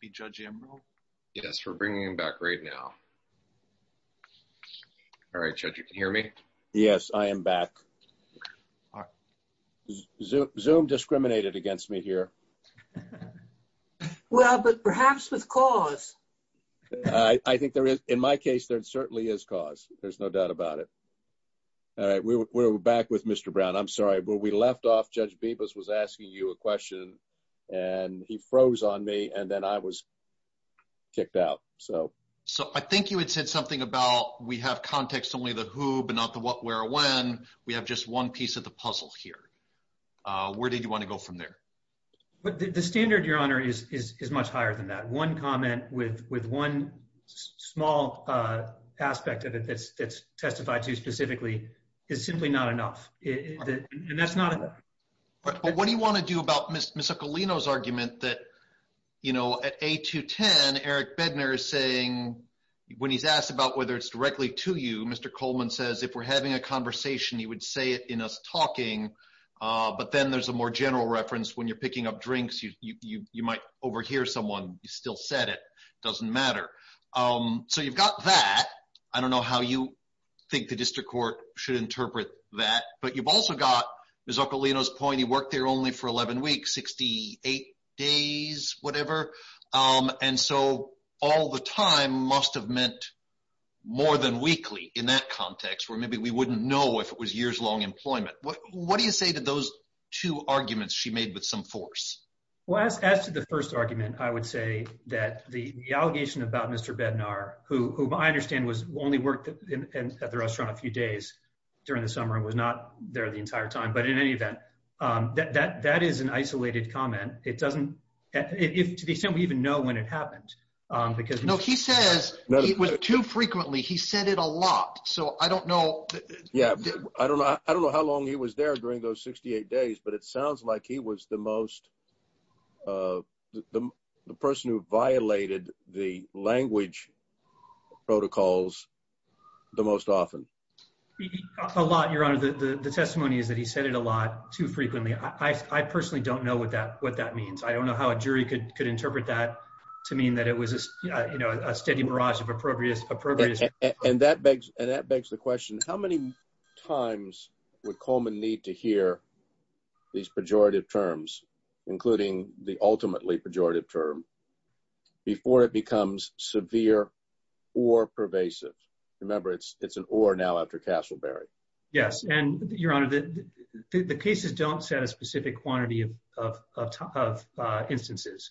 be Judge Ambrose. Yes. We're bringing him back right now. All right, Judge, you can hear me? Yes, I am back. Zoom discriminated against me here. Well, but perhaps with cause. I think there is. In my case, there certainly is cause. There's no doubt about it. All right. We're back with Mr. Brown. I'm sorry. Where we left off, Judge Bibas was asking you a question, and he froze on me, and then I was kicked out. I think you had said something about we have context only the who, but not the what, where, or when. We have just one piece of the puzzle here. Where did you want to go from there? The standard, Your Honor, is much higher than that. One comment with one small aspect of it that's testified to specifically is simply not enough, and that's not enough. But what do you want to do about Ms. Ocolino's argument that, you know, at A210, Eric Bednar is saying, when he's asked about whether it's directly to you, Mr. Coleman says, if we're having a conversation, he would say it in us talking, but then there's a more general reference. When you're picking up drinks, you might overhear someone. You still said it. It doesn't matter. So you've got that. I don't know how you think the district court should have thought about that. What do you say to those two arguments she made with some force? As to the first argument, I would say that the allegation about Mr. Bednar, who I understand only worked at the restaurant a few days during the summer and was not there the entire time, but in any event, that is an isolated comment. To the extent we even know when it happened. No, he says it was too frequently. He said it a lot. So I don't know. Yeah, I don't know how long he was there during those 68 days, but it sounds like he was the most person who violated the language protocols the most often. A lot, Your Honor. The testimony is that he said it a lot too frequently. I personally don't know what that means. I don't know how a jury could interpret that to mean that it was a steady mirage of appropriateness. And that begs the question, how many times would Coleman need to hear these pejorative terms, including the ultimately pejorative term, before it becomes severe or pervasive? Remember, it's an or now after Castleberry. Yes. And Your Honor, the cases don't set a specific quantity of instances.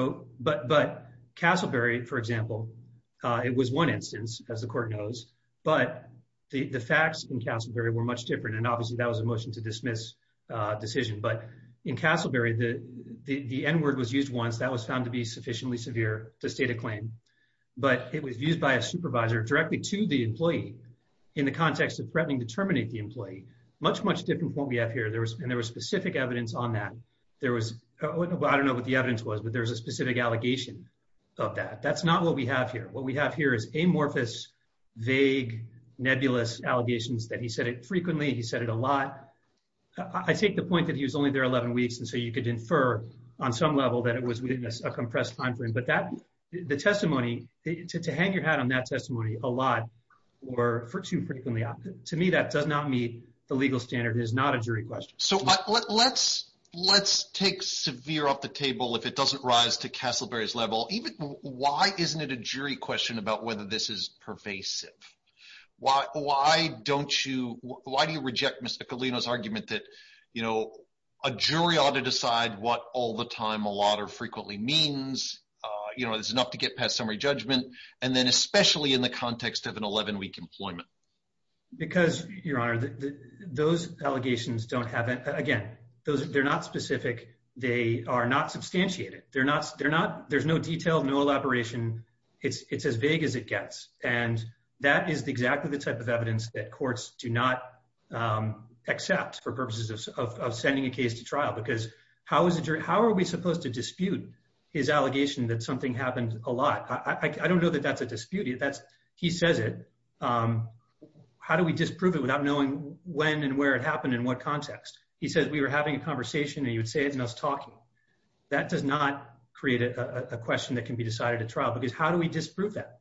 But Castleberry, for example, it was one instance, as the court knows, but the facts in Castleberry were much different. And obviously that was a motion to dismiss decision. But in Castleberry, the N word was used once. That was found to be sufficiently severe to state a claim. But it was used by a supervisor directly to the employee in the context of threatening to terminate the employee. Much, much different from what we have here. And there was specific evidence on that. There was, I don't know what the evidence was, but there was a specific allegation of that. That's not what we have here. What we have here is amorphous, vague, nebulous allegations that he said it frequently. He said it a lot. I take the point that he was only there 11 weeks. And so you could infer on some level that it was a compressed timeframe. But the testimony, to hang your hat on that testimony a lot or too frequently. To me, that does not meet the legal standard. It is not a jury question. So let's take severe off the table. If it doesn't rise to Castleberry's level, why isn't it a jury question about whether this is pervasive? Why do you reject Mr. Bruno's argument that, you know, a jury ought to decide what all the time a lot or frequently means? You know, there's enough to get past summary judgment. And then especially in the context of an 11 week employment. Because your honor, those allegations don't have, again, those, they're not specific. They are not substantiated. They're not, they're not, there's no detail, no elaboration. It's, it's as vague as it gets. And that is exactly the type of evidence that accepts for purposes of sending a case to trial. Because how is it, how are we supposed to dispute his allegation that something happened a lot? I don't know that that's a dispute. That's, he says it. How do we disprove it without knowing when and where it happened in what context? He says we were having a conversation and you would say it's not talking. That does not create a question that can be decided at trial. Because how do we disprove that?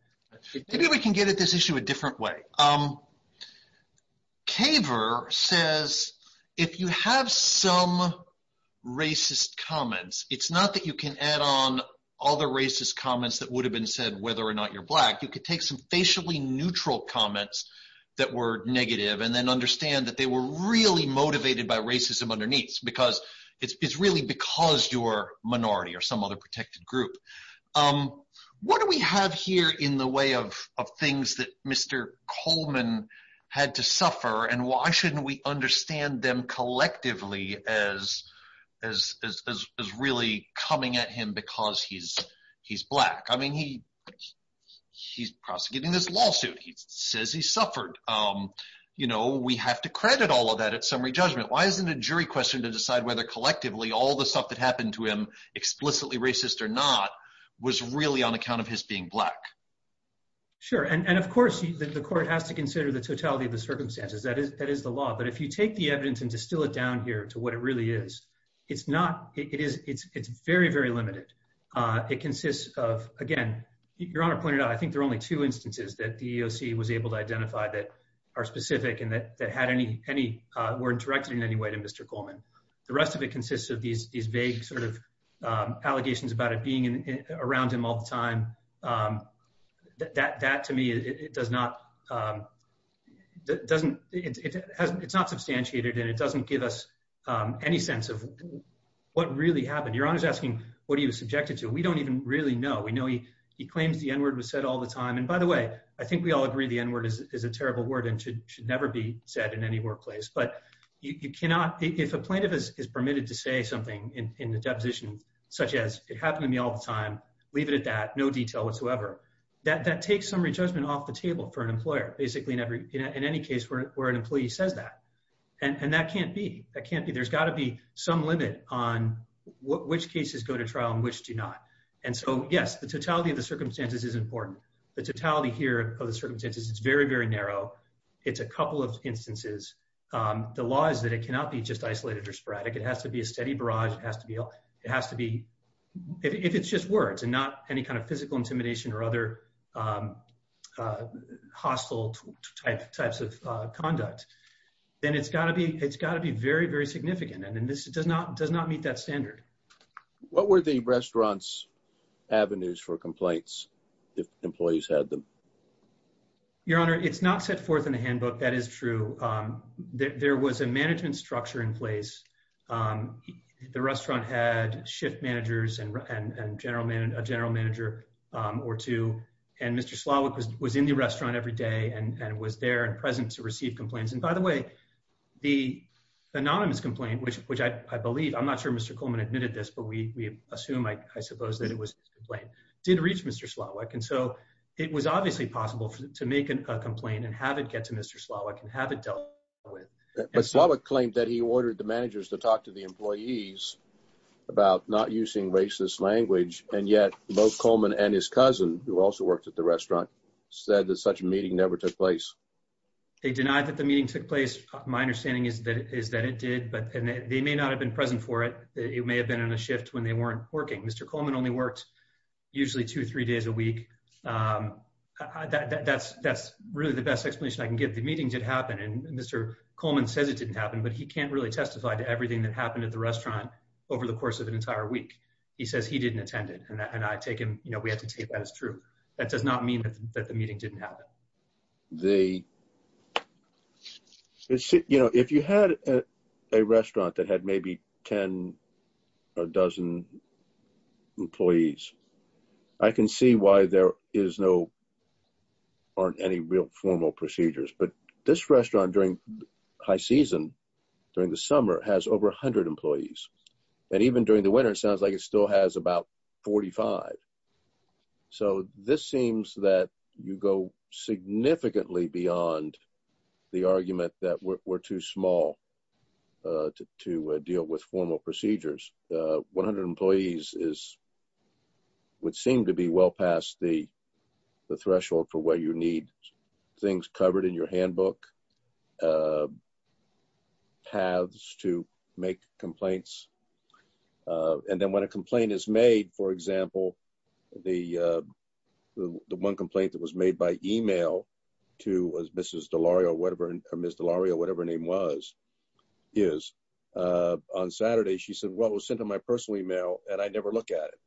Maybe we can get at this issue a different way. Kaver says if you have some racist comments, it's not that you can add on other racist comments that would have been said whether or not you're black. You could take some facially neutral comments that were negative and then understand that they were really motivated by racism underneath. Because it's really because you're a minority or some other protected group. Um, what do we have here in the way of, of things that Mr. Coleman had to suffer? And why shouldn't we understand them collectively as, as, as, as really coming at him because he's, he's black? I mean, he, he's prosecuting this lawsuit. He says he suffered. Um, you know, we have to credit all of that at summary judgment. Why isn't a jury question to decide whether collectively all the or not was really on account of his being black. Sure. And of course the court has to consider the totality of the circumstances that is, that is the law. But if you take the evidence and distill it down here to what it really is, it's not, it is, it's, it's very, very limited. Uh, it consists of, again, your honor pointed out, I think there are only two instances that the EOC was able to identify that are specific and that, that had any, any, uh, weren't directed in any way to Mr. Coleman. The rest of it consists of these, these vague sort of, um, allegations about it being in, around him all the time. Um, that, that to me, it does not, um, doesn't, it hasn't, it's not substantiated and it doesn't give us, um, any sense of what really happened. Your honor's asking what he was subjected to. We don't even really know. We know he, he claims the N word was said all the time. And by the way, I think we all agree the N word is, is a terrible word and should, should never be said in any workplace, but you cannot, if a plaintiff is permitted to say something in the deposition, such as it happened to me all the time, leave it at that, no detail whatsoever. That, that takes some re-judgment off the table for an employer, basically in every, in any case where, where an employee says that. And that can't be, that can't be, there's got to be some limit on which cases go to trial and which do not. And so yes, the totality of the circumstances is important. The totality here of the circumstances is very, very narrow. It's a couple of instances. Um, the law is that it cannot be just isolated or sporadic. It has to be a steady barrage. It has to be, it has to be, if it's just words and not any kind of physical intimidation or other, um, uh, hostile type types of, uh, conduct, then it's gotta be, it's gotta be very, very significant. And then this does not, does not meet that standard. What were the that is true. Um, there, there was a management structure in place. Um, the restaurant had shift managers and, and, and general man, a general manager, um, or two. And Mr. Slotwick was, was in the restaurant every day and was there and present to receive complaints. And by the way, the anonymous complaint, which, which I believe, I'm not sure Mr. Coleman admitted this, but we, we assume, I suppose that it was complained, did reach Mr. Slotwick. And so it was obviously possible to make a complaint and have it get to Mr. Slotwick and have it dealt with. But Slotwick claimed that he ordered the managers to talk to the employees about not using racist language. And yet both Coleman and his cousin who also worked at the restaurant said that such a meeting never took place. They denied that the meeting took place. My understanding is that, is that it did, but they may not have been present for it. It may have been on a shift when they weren't working. Mr. Coleman only worked usually two, three days a week. Um, that that's, that's really the best explanation I can give. The meeting did happen and Mr. Coleman says it didn't happen, but he can't really testify to everything that happened at the restaurant over the course of an entire week. He says he didn't attend it. And I take him, you know, we have to take that as true. That does not mean that the meeting didn't happen. The, you know, if you had a restaurant that had maybe 10 or a dozen employees, I can see why there is no, aren't any real formal procedures, but this restaurant during high season, during the summer has over a hundred employees. And even during the winter, it sounds like it still has about 45. So this seems that you go significantly beyond the argument that we're too small, uh, to, to, uh, deal with formal procedures. Uh, 100 employees is, would seem to be well past the threshold for where you need things covered in your handbook, uh, paths to make complaints. Uh, and then when a complaint is made, for example, the, uh, the one complaint that was made by email to was Mrs. Delario or whatever, Ms. Delario, whatever name was, is, uh, on Saturday, she said, well, it was sent to my personal email and I never look at it,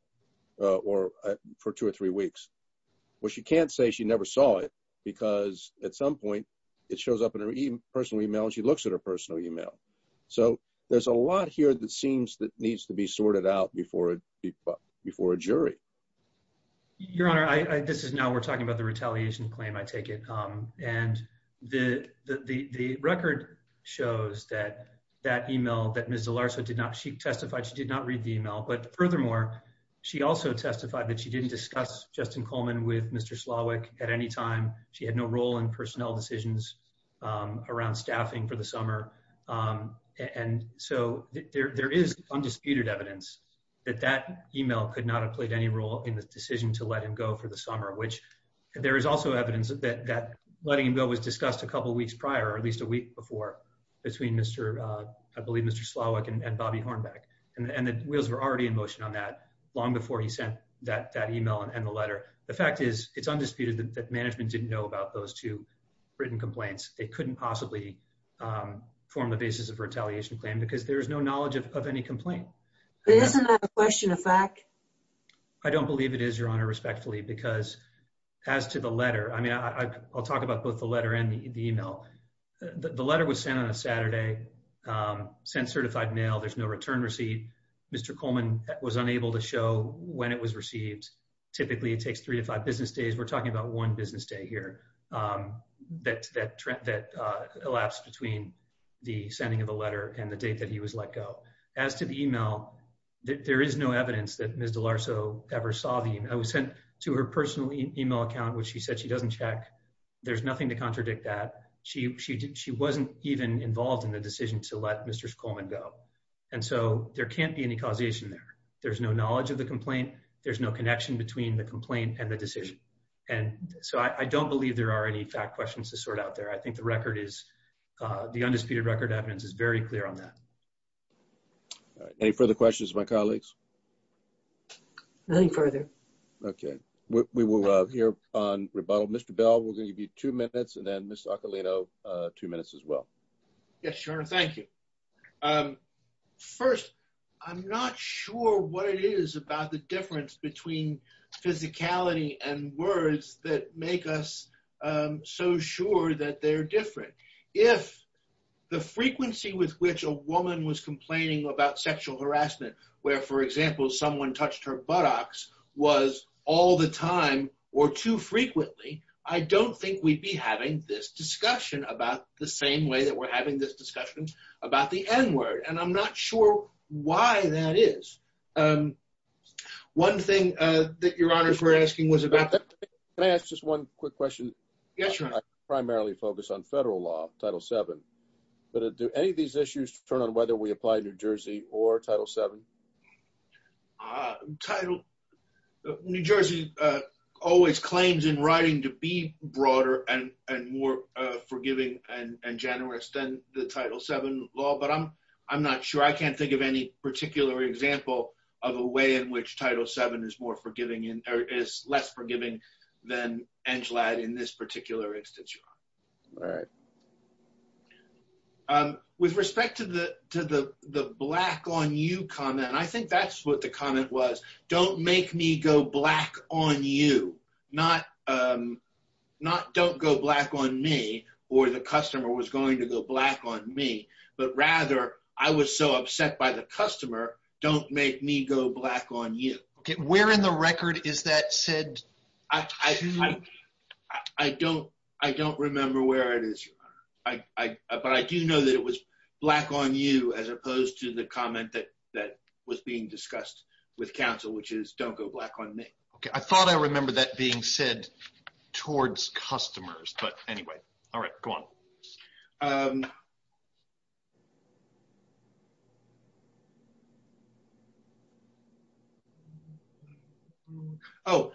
uh, or for two or three weeks. Well, she can't say she never saw it because at some point it shows up in her personal email and she looks at her personal email. So there's a lot here that seems that needs to be sorted out before, before a jury. Your honor, I, I, this is now we're talking about the retaliation claim. I take it. Um, and the, the, the, the record shows that that email that Ms. Delarcio did not, she testified, she did not read the email, but furthermore, she also testified that she didn't discuss Justin Coleman with Mr. Slawek at any time. She had no role in personnel decisions, um, and so there, there is undisputed evidence that that email could not have played any role in the decision to let him go for the summer, which there is also evidence that, that letting him go was discussed a couple of weeks prior, or at least a week before between Mr. uh, I believe Mr. Slawek and Bobby Hornbeck and the wheels were already in motion on that long before he sent that, that email and the letter. The fact is it's undisputed that management didn't know about those two written complaints. They couldn't possibly, um, form the basis of retaliation claim because there is no knowledge of, of any complaint. But isn't that a question of fact? I don't believe it is your honor respectfully, because as to the letter, I mean, I, I, I'll talk about both the letter and the email. The letter was sent on a Saturday, um, sent certified mail. There's no return receipt. Mr. Coleman was unable to show when it was received. Typically it takes three to five business days. We're talking about one business day here, um, that, that, uh, elapsed between the sending of the letter and the date that he was let go. As to the email, there is no evidence that Ms. DeLarso ever saw the email. It was sent to her personal email account, which she said she doesn't check. There's nothing to contradict that. She, she, she wasn't even involved in the decision to let Mr. Coleman go. And so there can't be any causation there. There's no knowledge of the complaint. There's no connection between the complaint and the decision. And so I don't believe there are any fact questions to sort out there. I think the record is, uh, the undisputed record evidence is very clear on that. All right. Any further questions of my colleagues? Nothing further. Okay. We will, uh, hear on rebuttal. Mr. Bell, we're going to give you two minutes and then Ms. Occolino, uh, two minutes as well. Yes, your honor. Thank you. Um, first I'm not sure what it is about the difference between physicality and words that make us, um, so sure that they're different. If the frequency with which a woman was complaining about sexual harassment, where for example, someone touched her buttocks was all the time or too frequently, I don't think we'd be having this discussion about the same way that we're having this discussion about the N word. And I'm not sure why that is. Um, one thing, uh, that your honors were asking was about that. Can I ask just one quick question? Yes, your honor. I primarily focus on federal law, Title VII, but do any of these issues turn on whether we apply New Jersey or Title VII? Uh, Title, New Jersey, uh, always claims in writing to be broader and, and more, uh, forgiving and generous than the Title VII law, but I'm, I'm not sure. I can't think of any particular example of a way in which Title VII is more forgiving in, or is less forgiving than NGLAD in this particular instance, your honor. All right. Um, with respect to the, to the, the black on you comment, I think that's what the comment was. Don't make me go black on you. Not, um, not don't go black on me or the customer was going to go on me, but rather I was so upset by the customer. Don't make me go black on you. Okay. Where in the record is that said? I, I, I don't, I don't remember where it is. I, I, but I do know that it was black on you as opposed to the comment that, that was being discussed with counsel, which is don't go black on me. Okay. I thought I remember that being said towards customers, but anyway, all right, go on. Um, Oh,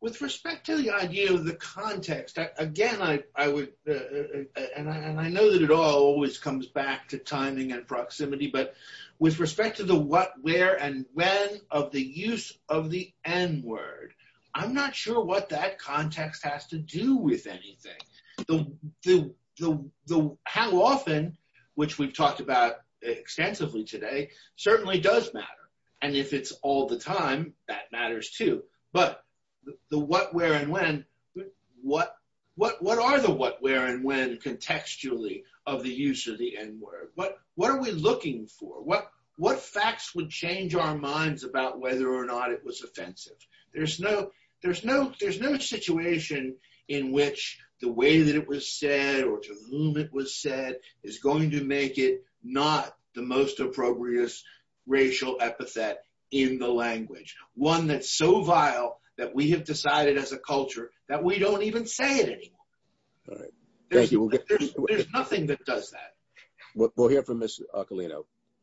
with respect to the idea of the context, again, I, I would, and I, and I know that it all always comes back to timing and proximity, but with respect to the what, where, and when of the use of the N word, I'm not sure what that context has to do with anything. The, the, the, the how often, which we've talked about extensively today certainly does matter. And if it's all the time that matters too, but the, what, where, and when, what, what, what are the, what, where, and when contextually of the use of the N word, what, what are we looking for? What, what facts would change our minds about whether or not it was offensive? There's no, there's no, there's no situation in which the way that it was said, or to whom it was said is going to make it not the most appropriate racial epithet in the language. One that's so vile that we have decided as a culture that we don't even say it anymore. There's nothing that does that. We'll hear from Ms.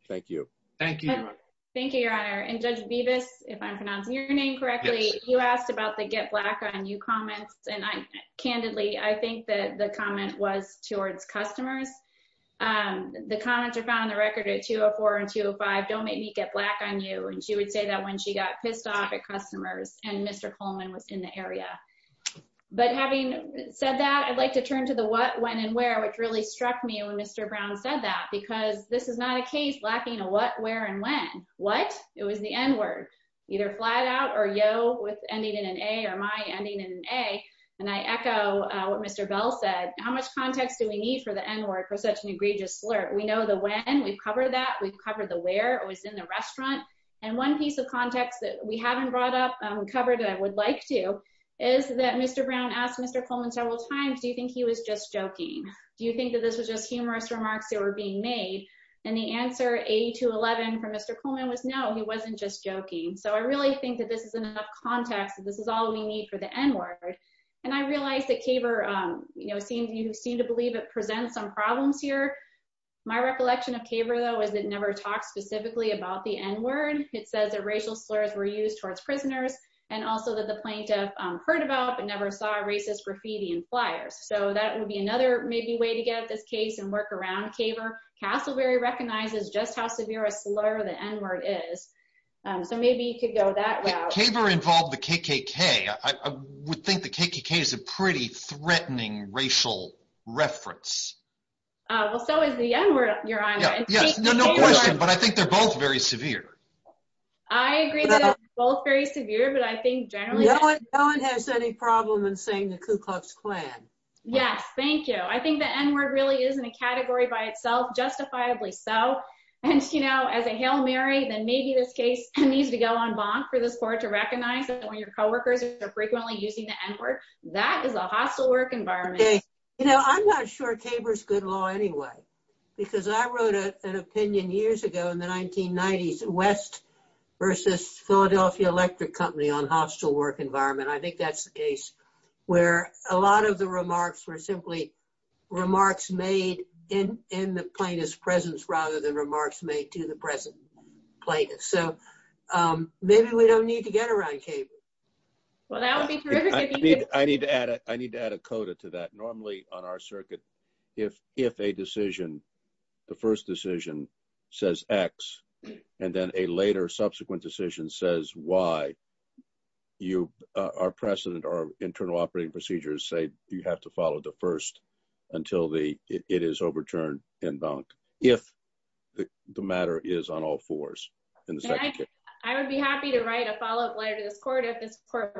Thank you, Your Honor. And Judge Bevis, if I'm pronouncing your name correctly, you asked about the get black on you comments. And I, candidly, I think that the comment was towards customers. The comments are found on the record at 204 and 205, don't make me get black on you. And she would say that when she got pissed off at customers and Mr. Coleman was in the area. But having said that, I'd like to turn to the what, when, and where, which really struck me when Mr. Brown said that, because this is not a case lacking a what, where, and when. What? It was the N word, either flat out or yo with ending in an A or my ending in an A. And I echo what Mr. Bell said. How much context do we need for the N word for such an egregious slur? We know the when, we've covered that, we've covered the where, it was in the restaurant. And one piece of context that we haven't brought up, covered, and I would like to, is that Mr. Brown asked Mr. Coleman several times, do you think he was just joking? Do you think that this was just humorous remarks that were being made? And the answer A to 11 from Mr. Coleman was no, he wasn't just joking. So I really think that this is enough context. This is all we need for the N word. And I realized that CABR, you know, seemed, you seem to believe it presents some problems here. My recollection of CABR though, is it never talked specifically about the N word. It says that racial slurs were used towards prisoners and also that the plaintiff heard about, but never saw racist graffiti and flyers. So that would be another maybe way to get at this case and work around CABR. Castleberry recognizes just how severe a slur the N word is. So maybe you could go that route. If CABR involved the KKK, I would think the KKK is a pretty threatening racial reference. Well, so is the N word, Your Honor. No question, but I think they're both very severe. I agree that they're both very severe, but I think generally. No one has any problem in saying the Ku Klux Klan. Yes. Thank you. I think the N word really is in a category by itself, justifiably so. And you know, as a Hail Mary, then maybe this case needs to go on bonk for this court to recognize that when your coworkers are frequently using the N word, that is a hostile work environment. You know, I'm not sure CABR is good law anyway, because I wrote an opinion years ago in the 1990s versus Philadelphia Electric Company on hostile work environment. I think that's the case where a lot of the remarks were simply remarks made in the plaintiff's presence rather than remarks made to the present plaintiff. So maybe we don't need to get around CABR. Well, that would be terrific. I need to add a coda to that. Normally on our circuit, if a decision, the first decision says X, and then a later subsequent decision says Y, you, our precedent, our internal operating procedures say you have to follow the first until it is overturned in bonk, if the matter is on all fours. I would be happy to write a follow-up letter to this court if it's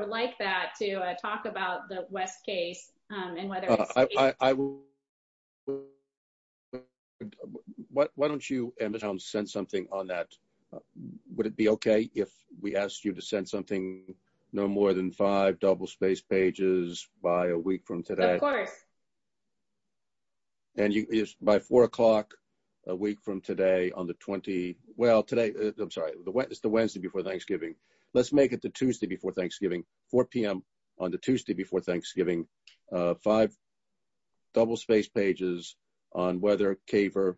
like that to talk about the I will. Why don't you send something on that? Would it be okay if we asked you to send something no more than five double-spaced pages by a week from today? Of course. And by four o'clock a week from today on the 20, well, today, I'm sorry, it's the Wednesday before Thanksgiving. Let's make it the Tuesday before Thanksgiving, 4 p.m. on the Tuesday before Thanksgiving, five double-spaced pages on whether CABR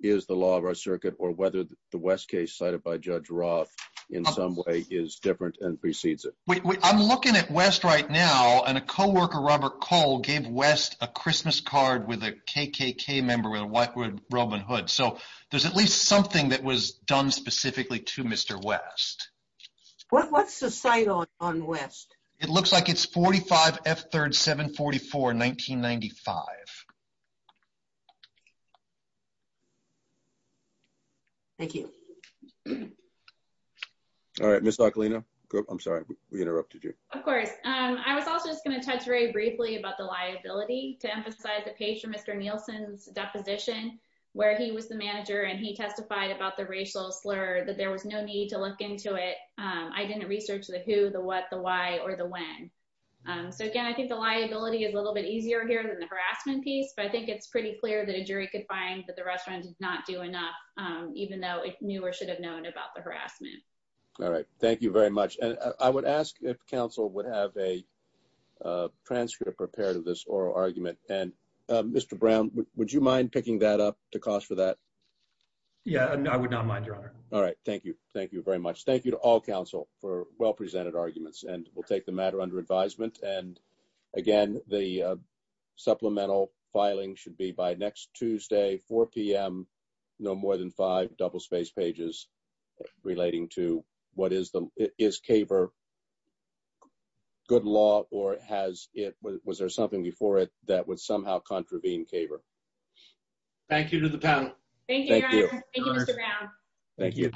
is the law of our circuit or whether the West case cited by Judge Roth in some way is different and precedes it. I'm looking at West right now, and a co-worker, Robert Cole, gave West a Christmas card with a KKK member with a whitewood robin hood. So there's at least something that was done specifically to Mr. West. What's the site on West? It looks like it's 45 F3rd 744, 1995. Thank you. All right, Ms. Lachlina, I'm sorry we interrupted you. Of course. I was also just going to touch very briefly about the liability to emphasize the page from Mr. Nielsen's deposition where he was the manager and he testified about the racial slur that there was no need to look into it. I didn't research the who, the what, the why, or the when. So again, I think the liability is a little bit easier here than the harassment piece, but I think it's pretty clear that a jury could find that the restaurant did not do enough, even though it knew or should have known about the harassment. All right, thank you very much. And I would ask if counsel would have a transcript or pair to this oral argument. And Mr. Brown, would you mind picking that up to cost for that? Yeah, I would not mind, Your Honor. All right. Thank you. Thank you very much. Thank you to all counsel for well-presented arguments. And we'll take the matter under advisement. And again, the supplemental filing should be by next Tuesday, 4 p.m., no more than five double-spaced pages relating to what is the, is CAVR good law or has it, was there something before it that would somehow contravene CAVR? Thank you to the panel. Thank you, Your Honor. Thank you, Mr. Brown. Thank you.